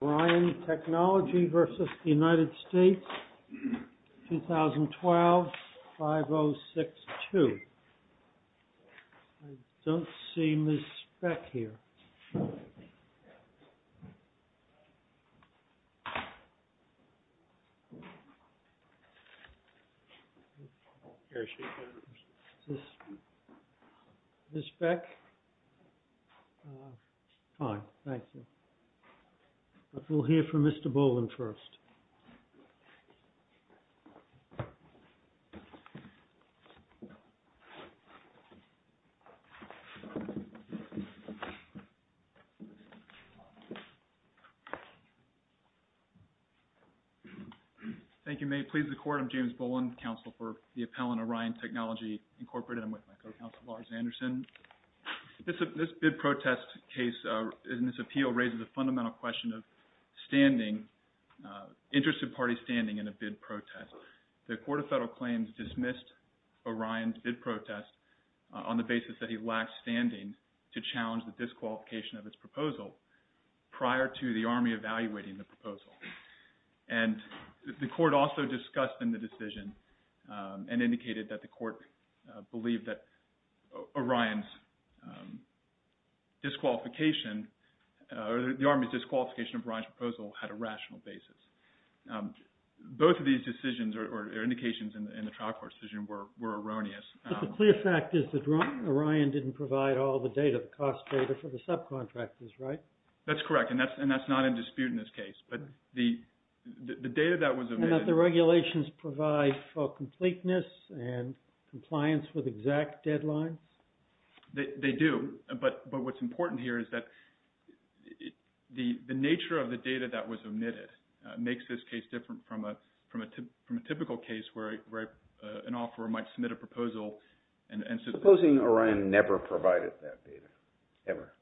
2012, 5062. I don't see Ms. Beck here. Is this Ms. Beck? Fine, thank you. But we'll hear from Mr. Boland first. Thank you. May it please the Court, I'm James Boland, Counsel for the Appellant Orion Technology Incorporated. I'm with my co-counsel Lars Anderson. This bid protest case in this appeal raises a fundamental question of standing, interested parties standing in a bid protest. The Court of Federal Claims dismissed Orion's bid protest on the basis that he lacked standing to challenge the disqualification of its proposal prior to the Army evaluating the proposal. And the Court also discussed in the decision and indicated that the Court believed that Orion's disqualification or the Army's disqualification of Orion's proposal had a rational basis. Both of these decisions or indications in the trial court decision were erroneous. But the clear fact is that Orion didn't provide all the data, the cost data for the subcontractors, right? That's correct. And that's not in dispute in this case. But the data that was omitted... And that the regulations provide for completeness and compliance with exact deadlines? They do. But what's important here is that the nature of the data that was omitted makes this case different from a typical case where an offeror might submit a proposal and... Supposing Orion never provided that data, ever?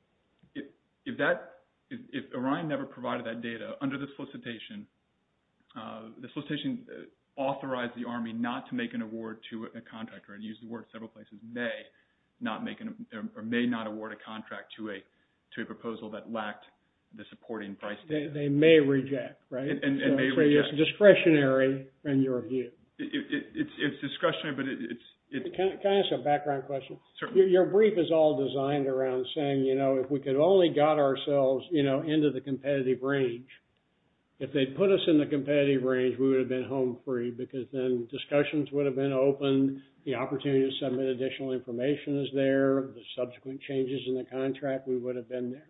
If Orion never provided that data, under the solicitation, the solicitation authorized the Army not to make an award to a contractor and used the word several places, may not make or may not award a contract to a proposal that lacked the supporting price data. They may reject, right? It may reject. So it's discretionary in your view. It's discretionary, but it's... Can I ask a background question? Certainly. Your brief is all designed around saying, you know, if we could only got ourselves, you know, into the competitive range. If they put us in the competitive range, we would have been home free because then discussions would have been open. The opportunity to submit additional information is there. The subsequent changes in the contract, we would have been there.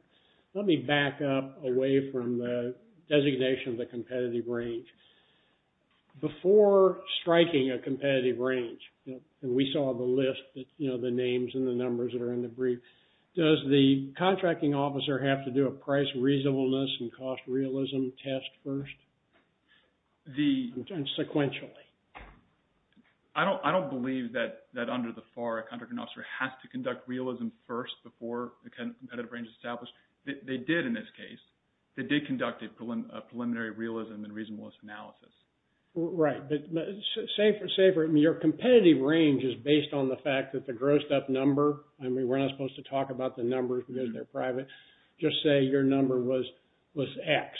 Let me back up away from the designation of the competitive range. Before striking a competitive range, we saw the list, you know, the names and the numbers that are in the brief. Does the contracting officer have to do a price reasonableness and cost realism test first? And sequentially. I don't believe that under the FAR, a contracting officer has to conduct realism first before the competitive range is established. They did in this case. They did conduct a preliminary realism and reasonableness analysis. Right. But say for... I mean, your competitive range is based on the fact that the grossed up number... I mean, we're not supposed to talk about the numbers because they're private. Just say your number was X.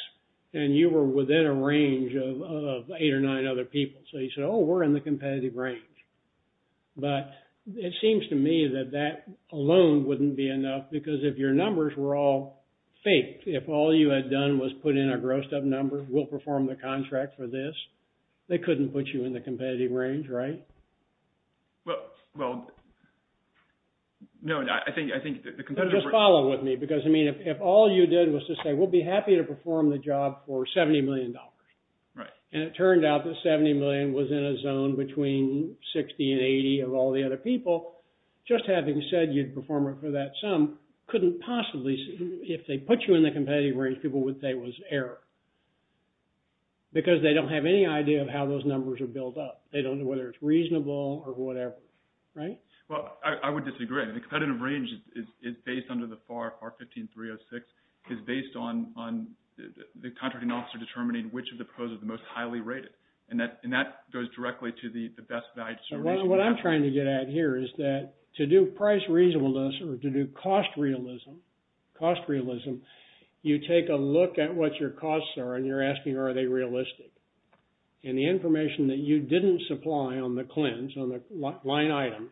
And you were within a range of eight or nine other people. So you said, oh, we're in the competitive range. But it seems to me that that alone wouldn't be enough because if your numbers were all fake, if all you had done was put in a grossed up number, we'll perform the contract for this, they couldn't put you in the competitive range, right? Well, no, I think... Just follow with me because, I mean, if all you did was to say, we'll be happy to perform the job for $70 million. Right. And it turned out that $70 million was in a zone between 60 and 80 of all the other people. So just having said you'd perform it for that sum, couldn't possibly... If they put you in the competitive range, people would say it was error. Because they don't have any idea of how those numbers are built up. They don't know whether it's reasonable or whatever. Right? Well, I would disagree. The competitive range is based under the FAR, FAR 15-306, is based on the contracting officer determining which of the pros are the most highly rated. And that goes directly to the best value... What I'm trying to get at here is that to do price reasonableness or to do cost realism, cost realism, you take a look at what your costs are and you're asking, are they realistic? And the information that you didn't supply on the CLINs, on the line items,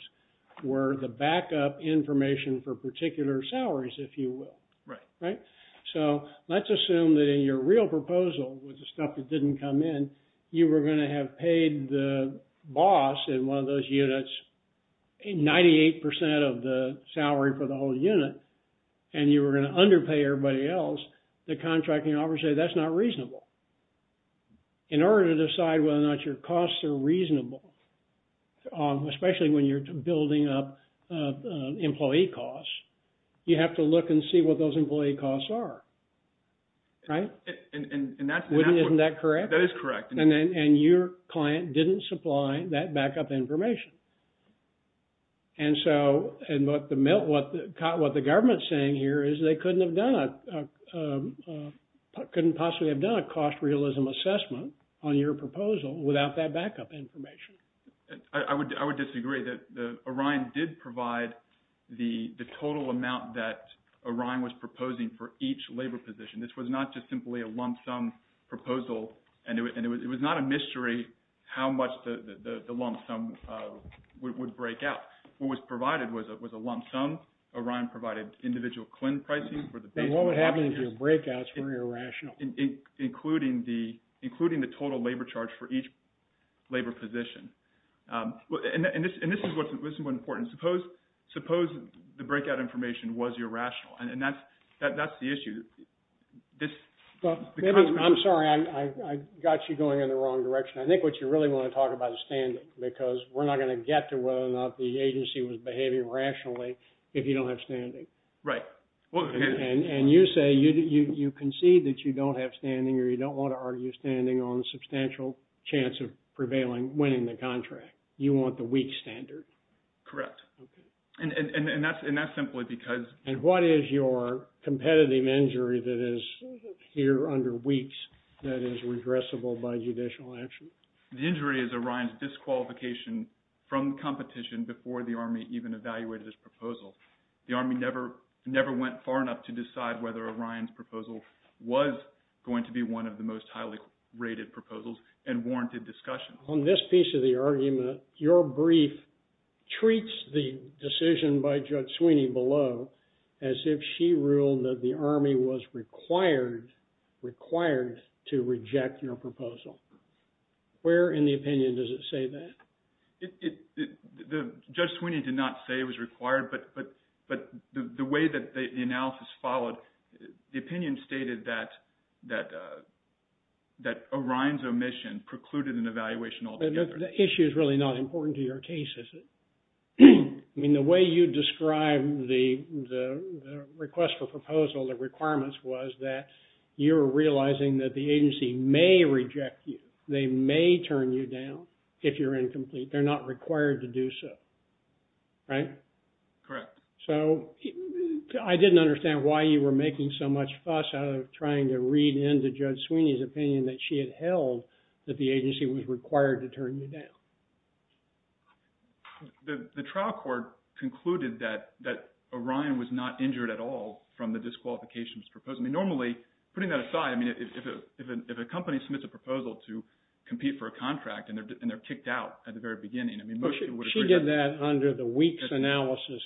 were the backup information for particular salaries, if you will. Right. Right? So let's assume that in your real proposal with the stuff that didn't come in, you were going to have paid the boss in one of those units 98% of the salary for the whole unit, and you were going to underpay everybody else. The contracting officer would say, that's not reasonable. In order to decide whether or not your costs are reasonable, especially when you're building up employee costs, you have to look and see what those employee costs are. Right? And that's... Isn't that correct? That is correct. And your client didn't supply that backup information. And so what the government's saying here is they couldn't have done a... couldn't possibly have done a cost realism assessment on your proposal without that backup information. I would disagree. Orion did provide the total amount that Orion was proposing for each labor position. This was not just simply a lump sum proposal, and it was not a mystery how much the lump sum would break out. What was provided was a lump sum. Orion provided individual CLIN pricing for the... And what would happen if your breakouts were irrational? Including the total labor charge for each labor position. And this is what's important. Suppose the breakout information was irrational, and that's the issue. I'm sorry. I got you going in the wrong direction. I think what you really want to talk about is standing, because we're not going to get to whether or not the agency was behaving rationally if you don't have standing. Right. And you say you concede that you don't have standing, or you don't want to argue standing on the substantial chance of prevailing, winning the contract. You want the weak standard. Correct. And that's simply because... And what is your competitive injury that is here under weaks that is regressible by judicial action? The injury is Orion's disqualification from competition before the Army even evaluated its proposal. The Army never went far enough to decide whether Orion's proposal was going to be one of the most highly rated proposals and warranted discussion. On this piece of the argument, your brief treats the decision by Judge Sweeney below as if she ruled that the Army was required to reject your proposal. Where in the opinion does it say that? Judge Sweeney did not say it was required, but the way that the analysis followed, the opinion stated that Orion's omission precluded an evaluation altogether. The issue is really not important to your case, is it? I mean, the way you describe the request for proposal, the requirements, was that you were realizing that the agency may reject you. They may turn you down if you're incomplete. They're not required to do so. Right? Correct. So, I didn't understand why you were making so much fuss out of trying to read into Judge Sweeney's opinion that she had held that the agency was required to turn you down. The trial court concluded that Orion was not injured at all from the disqualification proposal. Normally, putting that aside, I mean, if a company submits a proposal to compete for a contract and they're kicked out at the very beginning, I mean, most people would agree. She did that under the weak analysis.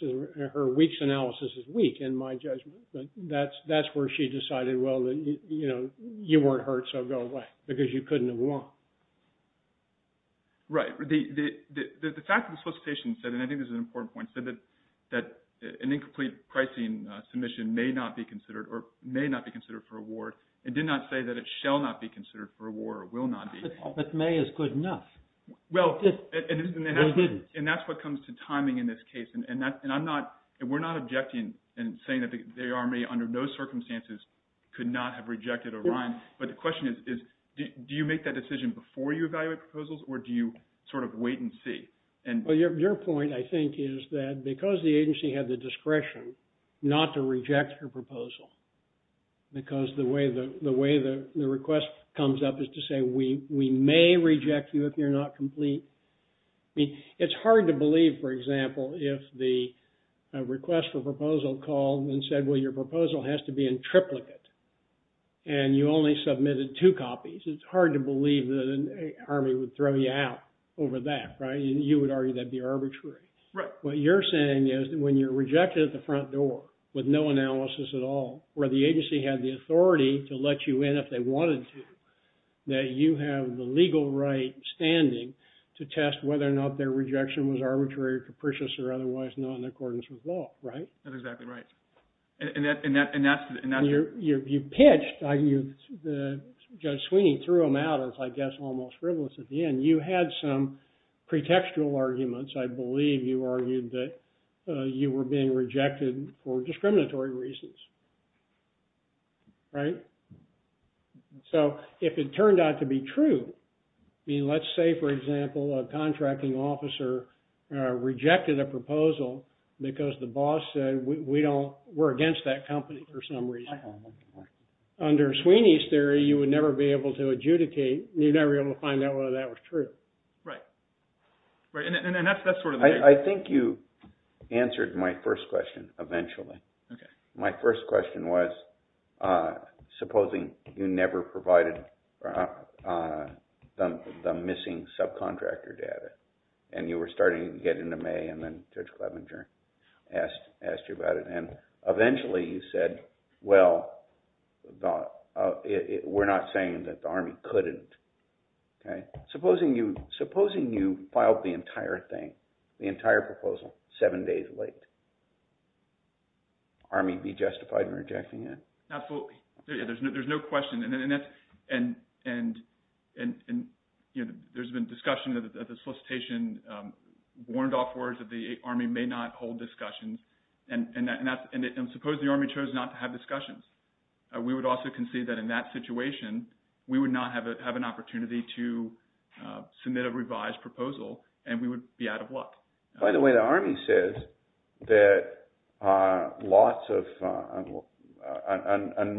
Her weak analysis is weak, in my judgment. That's where she decided, well, you weren't hurt, so go away, because you couldn't have won. Right. The fact that the solicitation said, and I think this is an important point, said that an incomplete pricing submission may not be considered for award and did not say that it shall not be considered for award or will not be. But may is good enough. Well, and that's what comes to timing in this case. And we're not objecting and saying that the Army, under no circumstances, could not have rejected Orion. But the question is, do you make that decision before you evaluate proposals, or do you sort of wait and see? Well, your point, I think, is that because the agency had the discretion not to reject her proposal, because the way the request comes up is to say, we may reject you if you're not complete. I mean, it's hard to believe, for example, if the request for proposal called and said, well, your proposal has to be in triplicate, and you only submitted two copies. It's hard to believe that an Army would throw you out over that, right? You would argue that'd be arbitrary. Right. What you're saying is that when you're rejected at the front door with no analysis at all, where the agency had the authority to let you in if they wanted to, that you have the legal right standing to test whether or not their rejection was arbitrary or capricious or otherwise not in accordance with law, right? That's exactly right. And that's... You pitched. Judge Sweeney threw him out as, I guess, almost frivolous at the end. You had some pretextual arguments. I believe you argued that you were being rejected for discriminatory reasons, right? So if it turned out to be true, I mean, let's say, for example, a contracting officer rejected a proposal because the boss said, we're against that company for some reason. Under Sweeney's theory, you would never be able to adjudicate. You'd never be able to find out whether that was true. Right. And that's sort of the case. I think you answered my first question eventually. Okay. My first question was, supposing you never provided the missing subcontractor data and you were starting to get into May and then Judge Clevenger asked you about it, and eventually you said, well, we're not saying that the Army couldn't. Supposing you filed the entire thing, the entire proposal, seven days late, would the Army be justified in rejecting it? Absolutely. There's no question. And there's been discussion at the solicitation, warned off words that the Army may not hold discussions. And suppose the Army chose not to have discussions. We would also concede that in that situation, we would not have an opportunity to submit a revised proposal and we would be out of luck. By the way, the Army says that lots of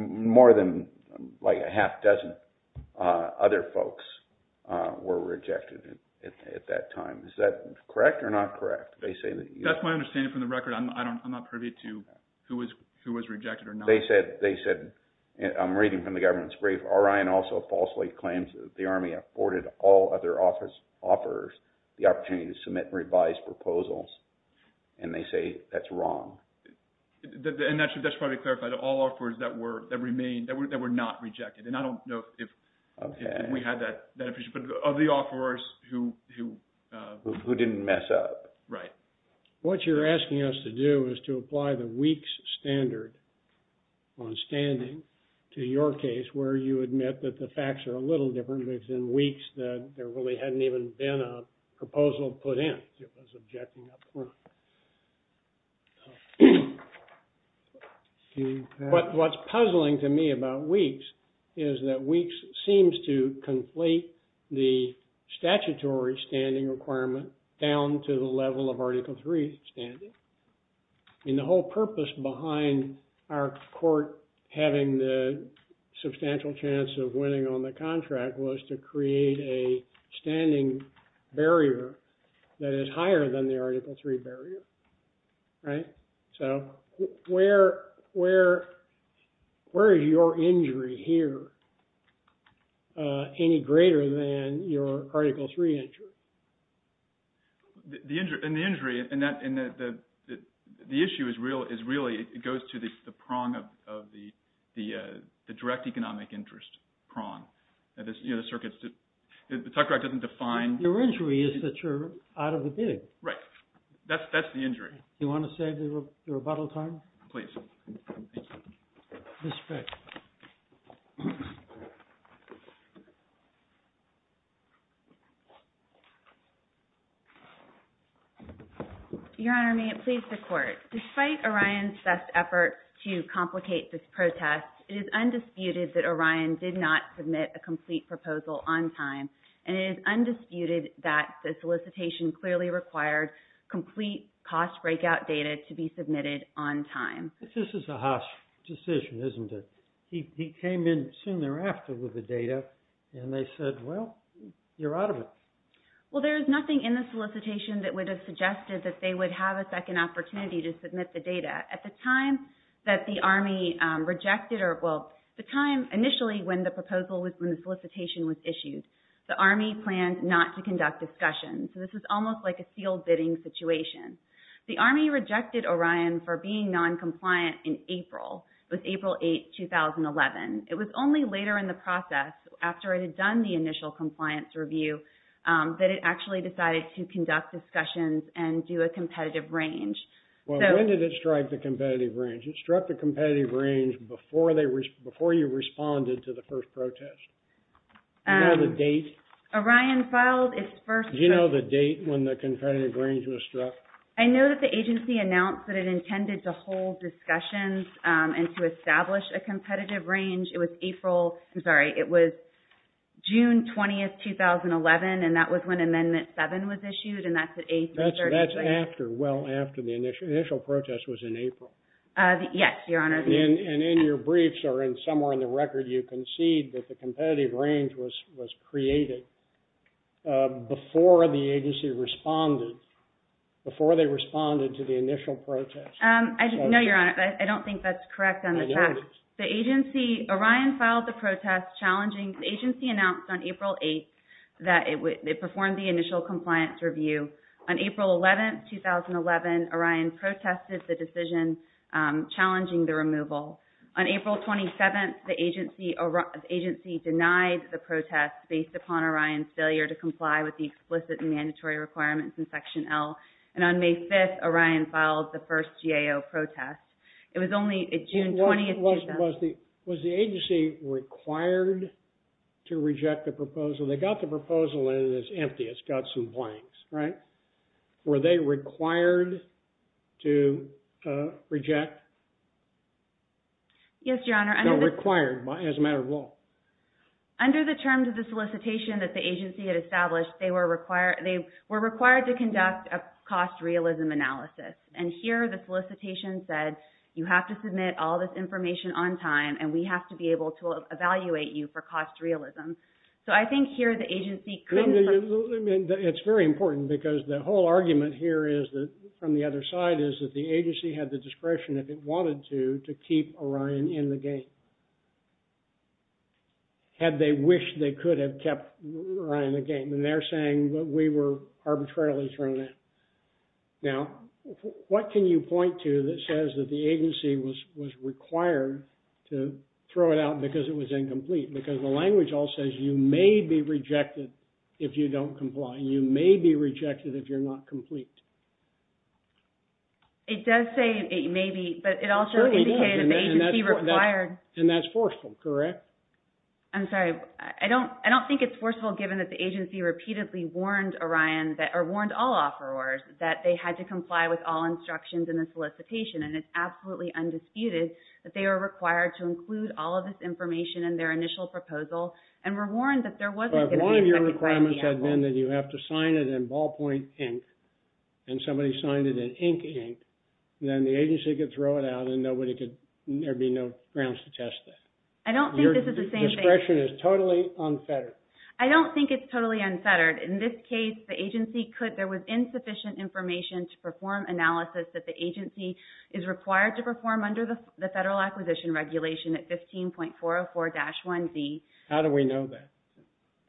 more than like a half dozen other folks were rejected at that time. Is that correct or not correct? That's my understanding from the record. I'm not privy to who was rejected or not. They said, I'm reading from the government's brief, Orion also falsely claims that the Army afforded all other offers the opportunity to submit revised proposals, and they say that's wrong. And that should probably be clarified. All offers that were not rejected, and I don't know if we had that, but of the offers who didn't mess up. Right. What you're asking us to do is to apply the WEEKS standard on standing to your case where you admit that the facts are a little different because in WEEKS there really hadn't even been a proposal put in. What's puzzling to me about WEEKS is that WEEKS seems to conflate the statutory standing requirement down to the level of Article III standing. And the whole purpose behind our court having the substantial chance of winning on the contract was to create a standing barrier that is higher than the Article III barrier. Right. So where is your injury here any greater than your Article III injury? The injury, and the issue is really it goes to the prong of the direct economic interest prong. You know, the circuits, the Tucker Act doesn't define. Your injury is that you're out of the big. Right. That's the injury. Do you want to say the rebuttal time? Please. Ms. Fick. Your Honor, may it please the Court. Despite Orion's best effort to complicate this protest, it is undisputed that Orion did not submit a complete proposal on time, and it is undisputed that the solicitation clearly required complete cost breakout data to be submitted on time. This is a harsh decision, isn't it? He came in soon thereafter with the data, and they said, well, you're out of it. Well, there is nothing in the solicitation that would have suggested that they would have a second opportunity to submit the data. At the time that the Army rejected, or well, the time initially when the solicitation was issued, the Army planned not to conduct discussion. So this was almost like a sealed bidding situation. The Army rejected Orion for being noncompliant in April. It was April 8, 2011. It was only later in the process, after it had done the initial compliance review, that it actually decided to conduct discussions and do a competitive range. Well, when did it strike the competitive range? It struck the competitive range before you responded to the first protest. Do you know the date? Orion filed its first— Do you know the date when the competitive range was struck? I know that the agency announced that it intended to hold discussions and to establish a competitive range. It was April—I'm sorry. That's after, well, after the initial protest was in April. Yes, Your Honor. And in your briefs, or somewhere in the record, you concede that the competitive range was created before the agency responded, before they responded to the initial protest. No, Your Honor, I don't think that's correct on the facts. The agency—Orion filed the protest challenging— On April 11, 2011, Orion protested the decision challenging the removal. On April 27, the agency denied the protest based upon Orion's failure to comply with the explicit and mandatory requirements in Section L. And on May 5, Orion filed the first GAO protest. It was only June 20, 2011— Was the agency required to reject the proposal? They got the proposal, and it's empty. It's got some blanks, right? Were they required to reject? Yes, Your Honor. No, required as a matter of law. Under the terms of the solicitation that the agency had established, they were required to conduct a cost realism analysis. And here the solicitation said, you have to submit all this information on time, and we have to be able to evaluate you for cost realism. So I think here the agency couldn't— It's very important, because the whole argument here is that, from the other side, is that the agency had the discretion, if it wanted to, to keep Orion in the game, had they wished they could have kept Orion in the game. And they're saying that we were arbitrarily thrown out. Now, what can you point to that says that the agency was required to throw it out because it was incomplete? Because the language all says, you may be rejected if you don't comply. You may be rejected if you're not complete. It does say maybe, but it also indicated that the agency required— And that's forceful, correct? I'm sorry. I don't think it's forceful, given that the agency repeatedly warned all offerors that they had to comply with all instructions in the solicitation. And it's absolutely undisputed that they were required to include all of this information in their initial proposal and were warned that there wasn't going to be— But one of your requirements had been that you have to sign it in ballpoint ink, and somebody signed it in ink ink, and then the agency could throw it out and there'd be no grounds to test it. I don't think this is the same thing— Your discretion is totally unfettered. I don't think it's totally unfettered. In this case, the agency could— There was insufficient information to perform analysis that the agency is required to perform under the Federal Acquisition Regulation at 15.404-1B. How do we know that?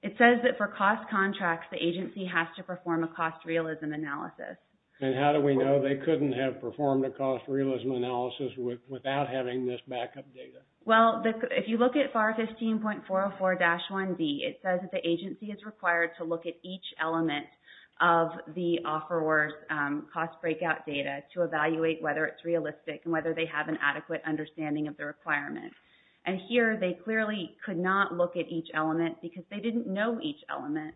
It says that for cost contracts, the agency has to perform a cost realism analysis. And how do we know they couldn't have performed a cost realism analysis without having this backup data? Well, if you look at FAR 15.404-1B, it says that the agency is required to look at each element of the offeror's cost breakout data to evaluate whether it's realistic and whether they have an adequate understanding of the requirement. And here, they clearly could not look at each element because they didn't know each element.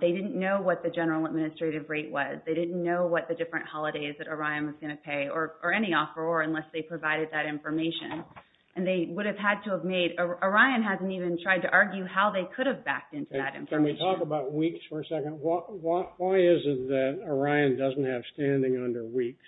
They didn't know what the general administrative rate was. They didn't know what the different holidays that Orion was going to pay or any offeror unless they provided that information. And they would have had to have made— Orion hasn't even tried to argue how they could have backed into that information. Can we talk about weeks for a second? Why is it that Orion doesn't have standing under weeks?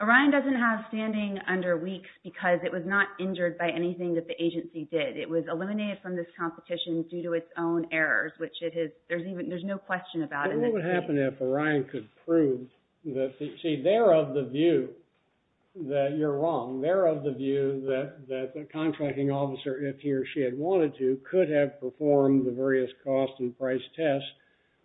Orion doesn't have standing under weeks because it was not injured by anything that the agency did. It was eliminated from this competition due to its own errors, which it has— there's no question about it. But what would happen if Orion could prove that— see, they're of the view that you're wrong. They're of the view that the contracting officer, if he or she had wanted to, could have performed the various cost and price tests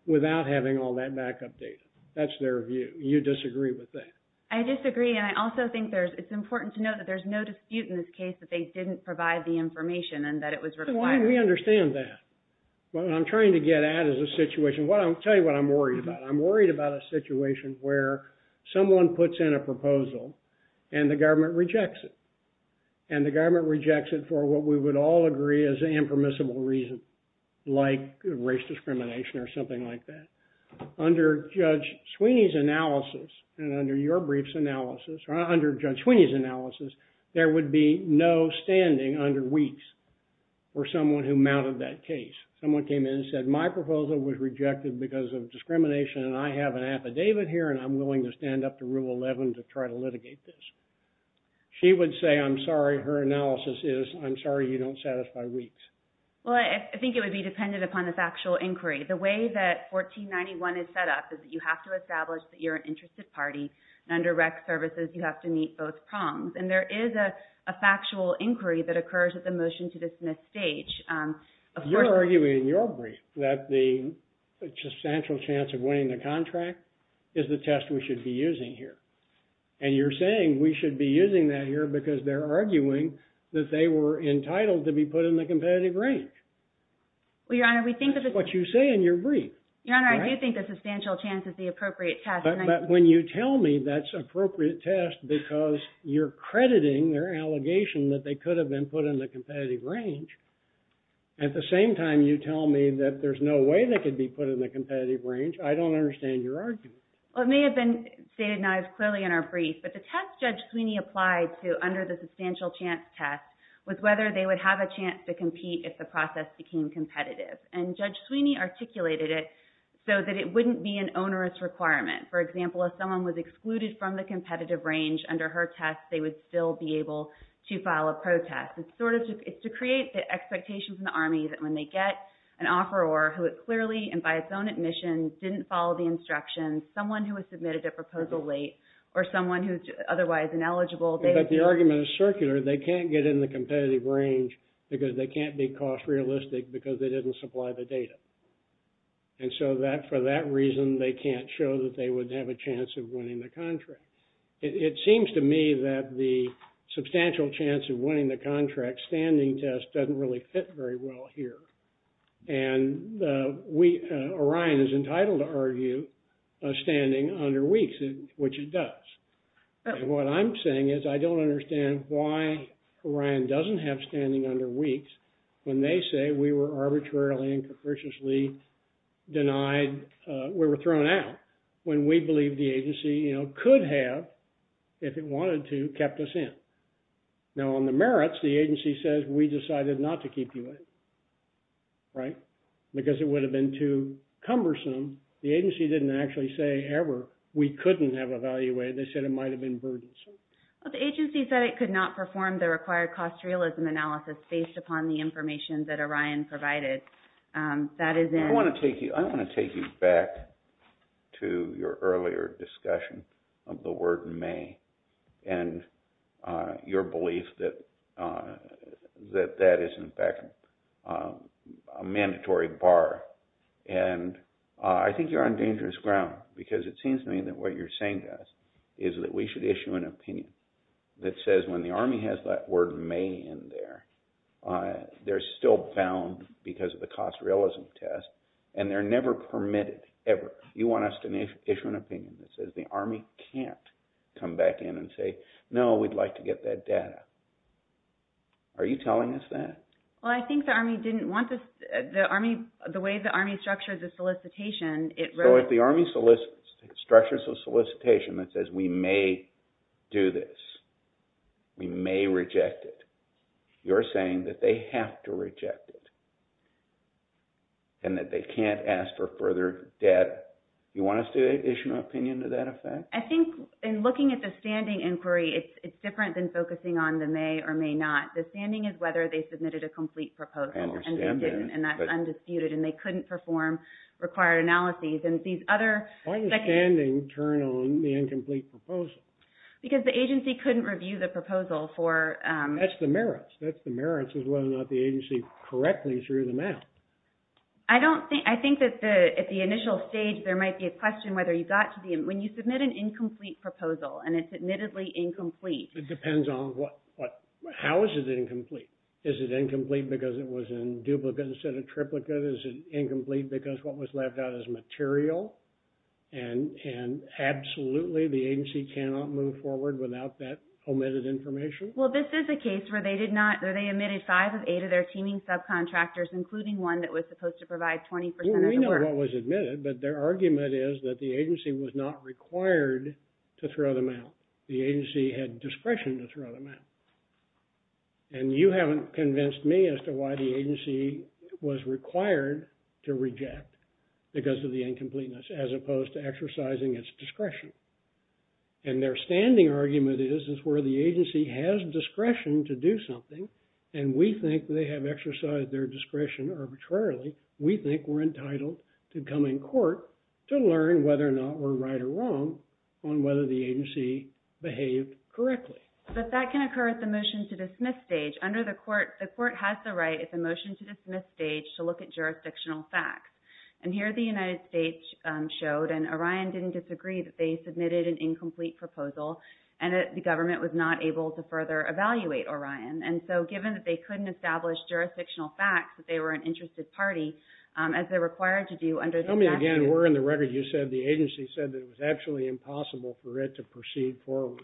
without having all that backup data. That's their view. You disagree with that? I disagree. And I also think it's important to note that there's no dispute in this case that they didn't provide the information and that it was required. So why do we understand that? What I'm trying to get at is a situation— I'll tell you what I'm worried about. I'm worried about a situation where someone puts in a proposal and the government rejects it. And the government rejects it for what we would all agree is an impermissible reason, like race discrimination or something like that. Under Judge Sweeney's analysis, and under your brief's analysis, or under Judge Sweeney's analysis, there would be no standing under weeks for someone who mounted that case. Someone came in and said, my proposal was rejected because of discrimination and I have an affidavit here and I'm willing to stand up to Rule 11 to try to litigate this. She would say, I'm sorry, her analysis is, I'm sorry you don't satisfy weeks. Well, I think it would be dependent upon the factual inquiry. The way that 1491 is set up is that you have to establish that you're an interested party. Under rec services, you have to meet both prongs. And there is a factual inquiry that occurs at the motion to dismiss stage. You're arguing in your brief that the substantial chance of winning the contract is the test we should be using here. And you're saying we should be using that here because they're arguing that they were entitled to be put in the competitive range. Well, Your Honor, we think that— That's what you say in your brief. Your Honor, I do think the substantial chance is the appropriate test. But when you tell me that's appropriate test because you're crediting their allegation that they could have been put in the competitive range, at the same time you tell me that there's no way they could be put in the competitive range, I don't understand your argument. Well, it may have been stated not as clearly in our brief, but the test Judge Sweeney applied to under the substantial chance test was whether they would have a chance to compete if the process became competitive. And Judge Sweeney articulated it so that it wouldn't be an onerous requirement. For example, if someone was excluded from the competitive range under her test, they would still be able to file a protest. It's to create the expectations in the Army that when they get an offeror who clearly, and by its own admission, didn't follow the instructions, someone who was submitted a proposal late or someone who's otherwise ineligible— But the argument is circular. They can't get in the competitive range because they can't be cost-realistic because they didn't supply the data. And so for that reason, they can't show that they would have a chance of winning the contract. It seems to me that the substantial chance of winning the contract standing test doesn't really fit very well here. And Orion is entitled to argue standing under weeks, which it does. And what I'm saying is I don't understand why Orion doesn't have standing under weeks when they say we were arbitrarily and capriciously denied— we were thrown out when we believed the agency could have, if it wanted to, kept us in. Now, on the merits, the agency says we decided not to keep you in, right? Because it would have been too cumbersome. The agency didn't actually say ever we couldn't have evaluated. They said it might have been burdensome. The agency said it could not perform the required cost-realism analysis based upon the information that Orion provided. That is in— I want to take you back to your earlier discussion of the word may and your belief that that is, in fact, a mandatory bar. And I think you're on dangerous ground because it seems to me that what you're saying to us is that we should issue an opinion that says when the Army has that word may in there, they're still bound because of the cost-realism test, and they're never permitted, ever. You want us to issue an opinion that says the Army can't come back in and say, no, we'd like to get that data. Are you telling us that? Well, I think the Army didn't want this— the way the Army structured the solicitation, it wrote— So if the Army structures a solicitation that says we may do this, we may reject it, you're saying that they have to reject it and that they can't ask for further data. You want us to issue an opinion to that effect? I think in looking at the standing inquiry, it's different than focusing on the may or may not. The standing is whether they submitted a complete proposal. I understand that. And that's undisputed, and they couldn't perform required analyses. And these other— The standing turned on the incomplete proposal. Because the agency couldn't review the proposal for— That's the merits. That's the merits is whether or not the agency correctly threw them out. I don't think— I think that at the initial stage, there might be a question whether you got to the— When you submit an incomplete proposal, and it's admittedly incomplete— It depends on what— How is it incomplete? Is it incomplete because it was in duplicate instead of triplicate? Is it incomplete because what was left out is material? And absolutely the agency cannot move forward without that omitted information? Well, this is a case where they did not— where they admitted five of eight of their teaming subcontractors, including one that was supposed to provide 20% of the work. Well, we know what was admitted, but their argument is that the agency was not required to throw them out. The agency had discretion to throw them out. And you haven't convinced me as to why the agency was required to reject, because of the incompleteness, as opposed to exercising its discretion. And their standing argument is, is where the agency has discretion to do something, and we think they have exercised their discretion arbitrarily, we think we're entitled to come in court to learn whether or not we're right or wrong on whether the agency behaved correctly. But that can occur at the motion to dismiss stage. Under the court, the court has the right at the motion to dismiss stage to look at jurisdictional facts. And here the United States showed, and Orion didn't disagree, that they submitted an incomplete proposal, and the government was not able to further evaluate Orion. And so given that they couldn't establish jurisdictional facts, that they were an interested party, as they're required to do under the— Tell me again where in the record you said the agency said that it was actually impossible for it to proceed forward,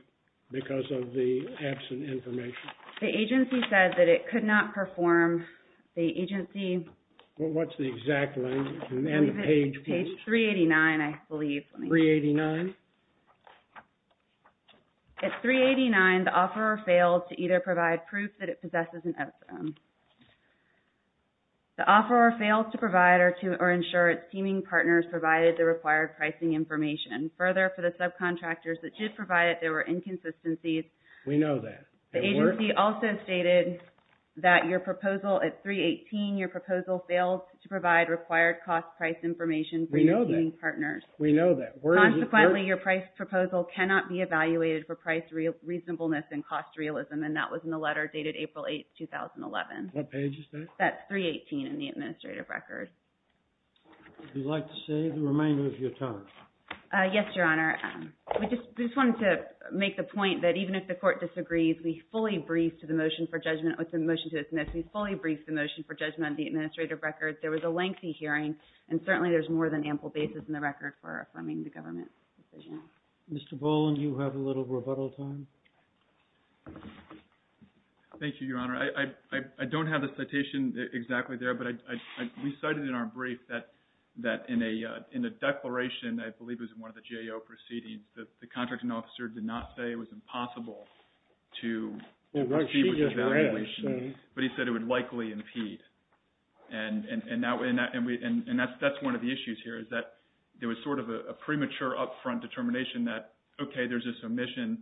because of the absent information. The agency said that it could not perform the agency— What's the exact one, and the page please? Page 389, I believe. 389? At 389, the offeror failed to either provide proof that it possesses an epithelium. The offeror failed to provide or ensure its seeming partners provided the required pricing information. Further, for the subcontractors that did provide it, there were inconsistencies. We know that. The agency also stated that your proposal at 318, your proposal failed to provide required cost price information for your seeming partners. We know that. We know that. Consequently, your price proposal cannot be evaluated for price reasonableness and cost realism, and that was in the letter dated April 8, 2011. What page is that? That's 318 in the administrative record. Would you like to say the remainder of your time? Yes, Your Honor. We just wanted to make the point that even if the court disagrees, we fully briefed the motion for judgment, or the motion to dismiss, we fully briefed the motion for judgment on the administrative record. There was a lengthy hearing, and certainly there's more than ample basis in the record for affirming the government's decision. Mr. Boland, you have a little rebuttal time. Thank you, Your Honor. I don't have the citation exactly there, but we cited in our brief that in a declaration, I believe it was in one of the GAO proceedings, the contracting officer did not say it was impossible to receive the evaluation, but he said it would likely impede. And that's one of the issues here, is that there was sort of a premature upfront determination that, okay, there's this omission,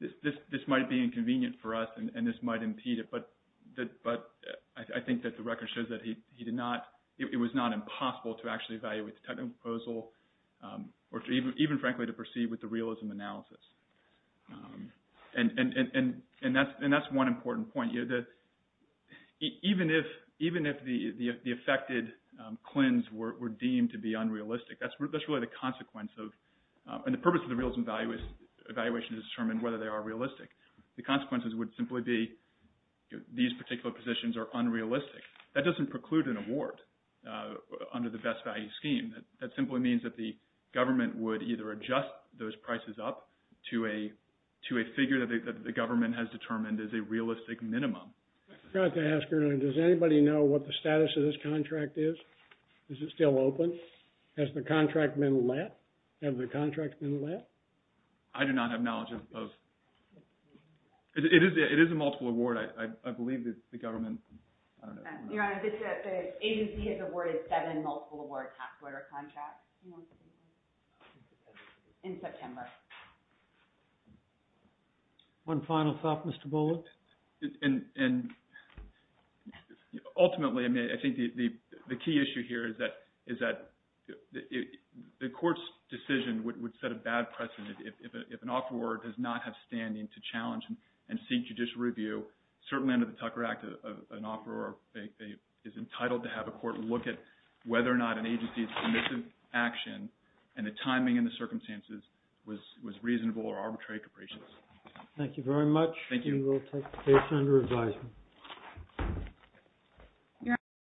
this might be inconvenient for us, and this might impede it, but I think that the record shows that it was not impossible to actually evaluate the technical proposal, or even, frankly, to proceed with the realism analysis. And that's one important point. Even if the affected CLINs were deemed to be unrealistic, that's really the consequence of, and the purpose of the realism evaluation is to determine whether they are realistic. The consequences would simply be these particular positions are unrealistic. That doesn't preclude an award under the best value scheme. That simply means that the government would either adjust those prices up, to a figure that the government has determined is a realistic minimum. I forgot to ask, does anybody know what the status of this contract is? Is it still open? Has the contract been let? Has the contract been let? I do not have knowledge of. It is a multiple award. I believe the government, I don't know. Your Honor, the agency has awarded seven multiple award tax order contracts in September. One final thought, Mr. Bullock? Ultimately, I think the key issue here is that the court's decision would set a bad precedent if an offeror does not have standing to challenge and seek judicial review. Certainly under the Tucker Act, an offeror is entitled to have a court look at whether or not an agency's remissive action and the timing and the circumstances was reasonable or arbitrary capricious. Thank you very much. Thank you. We will take the case under advisement.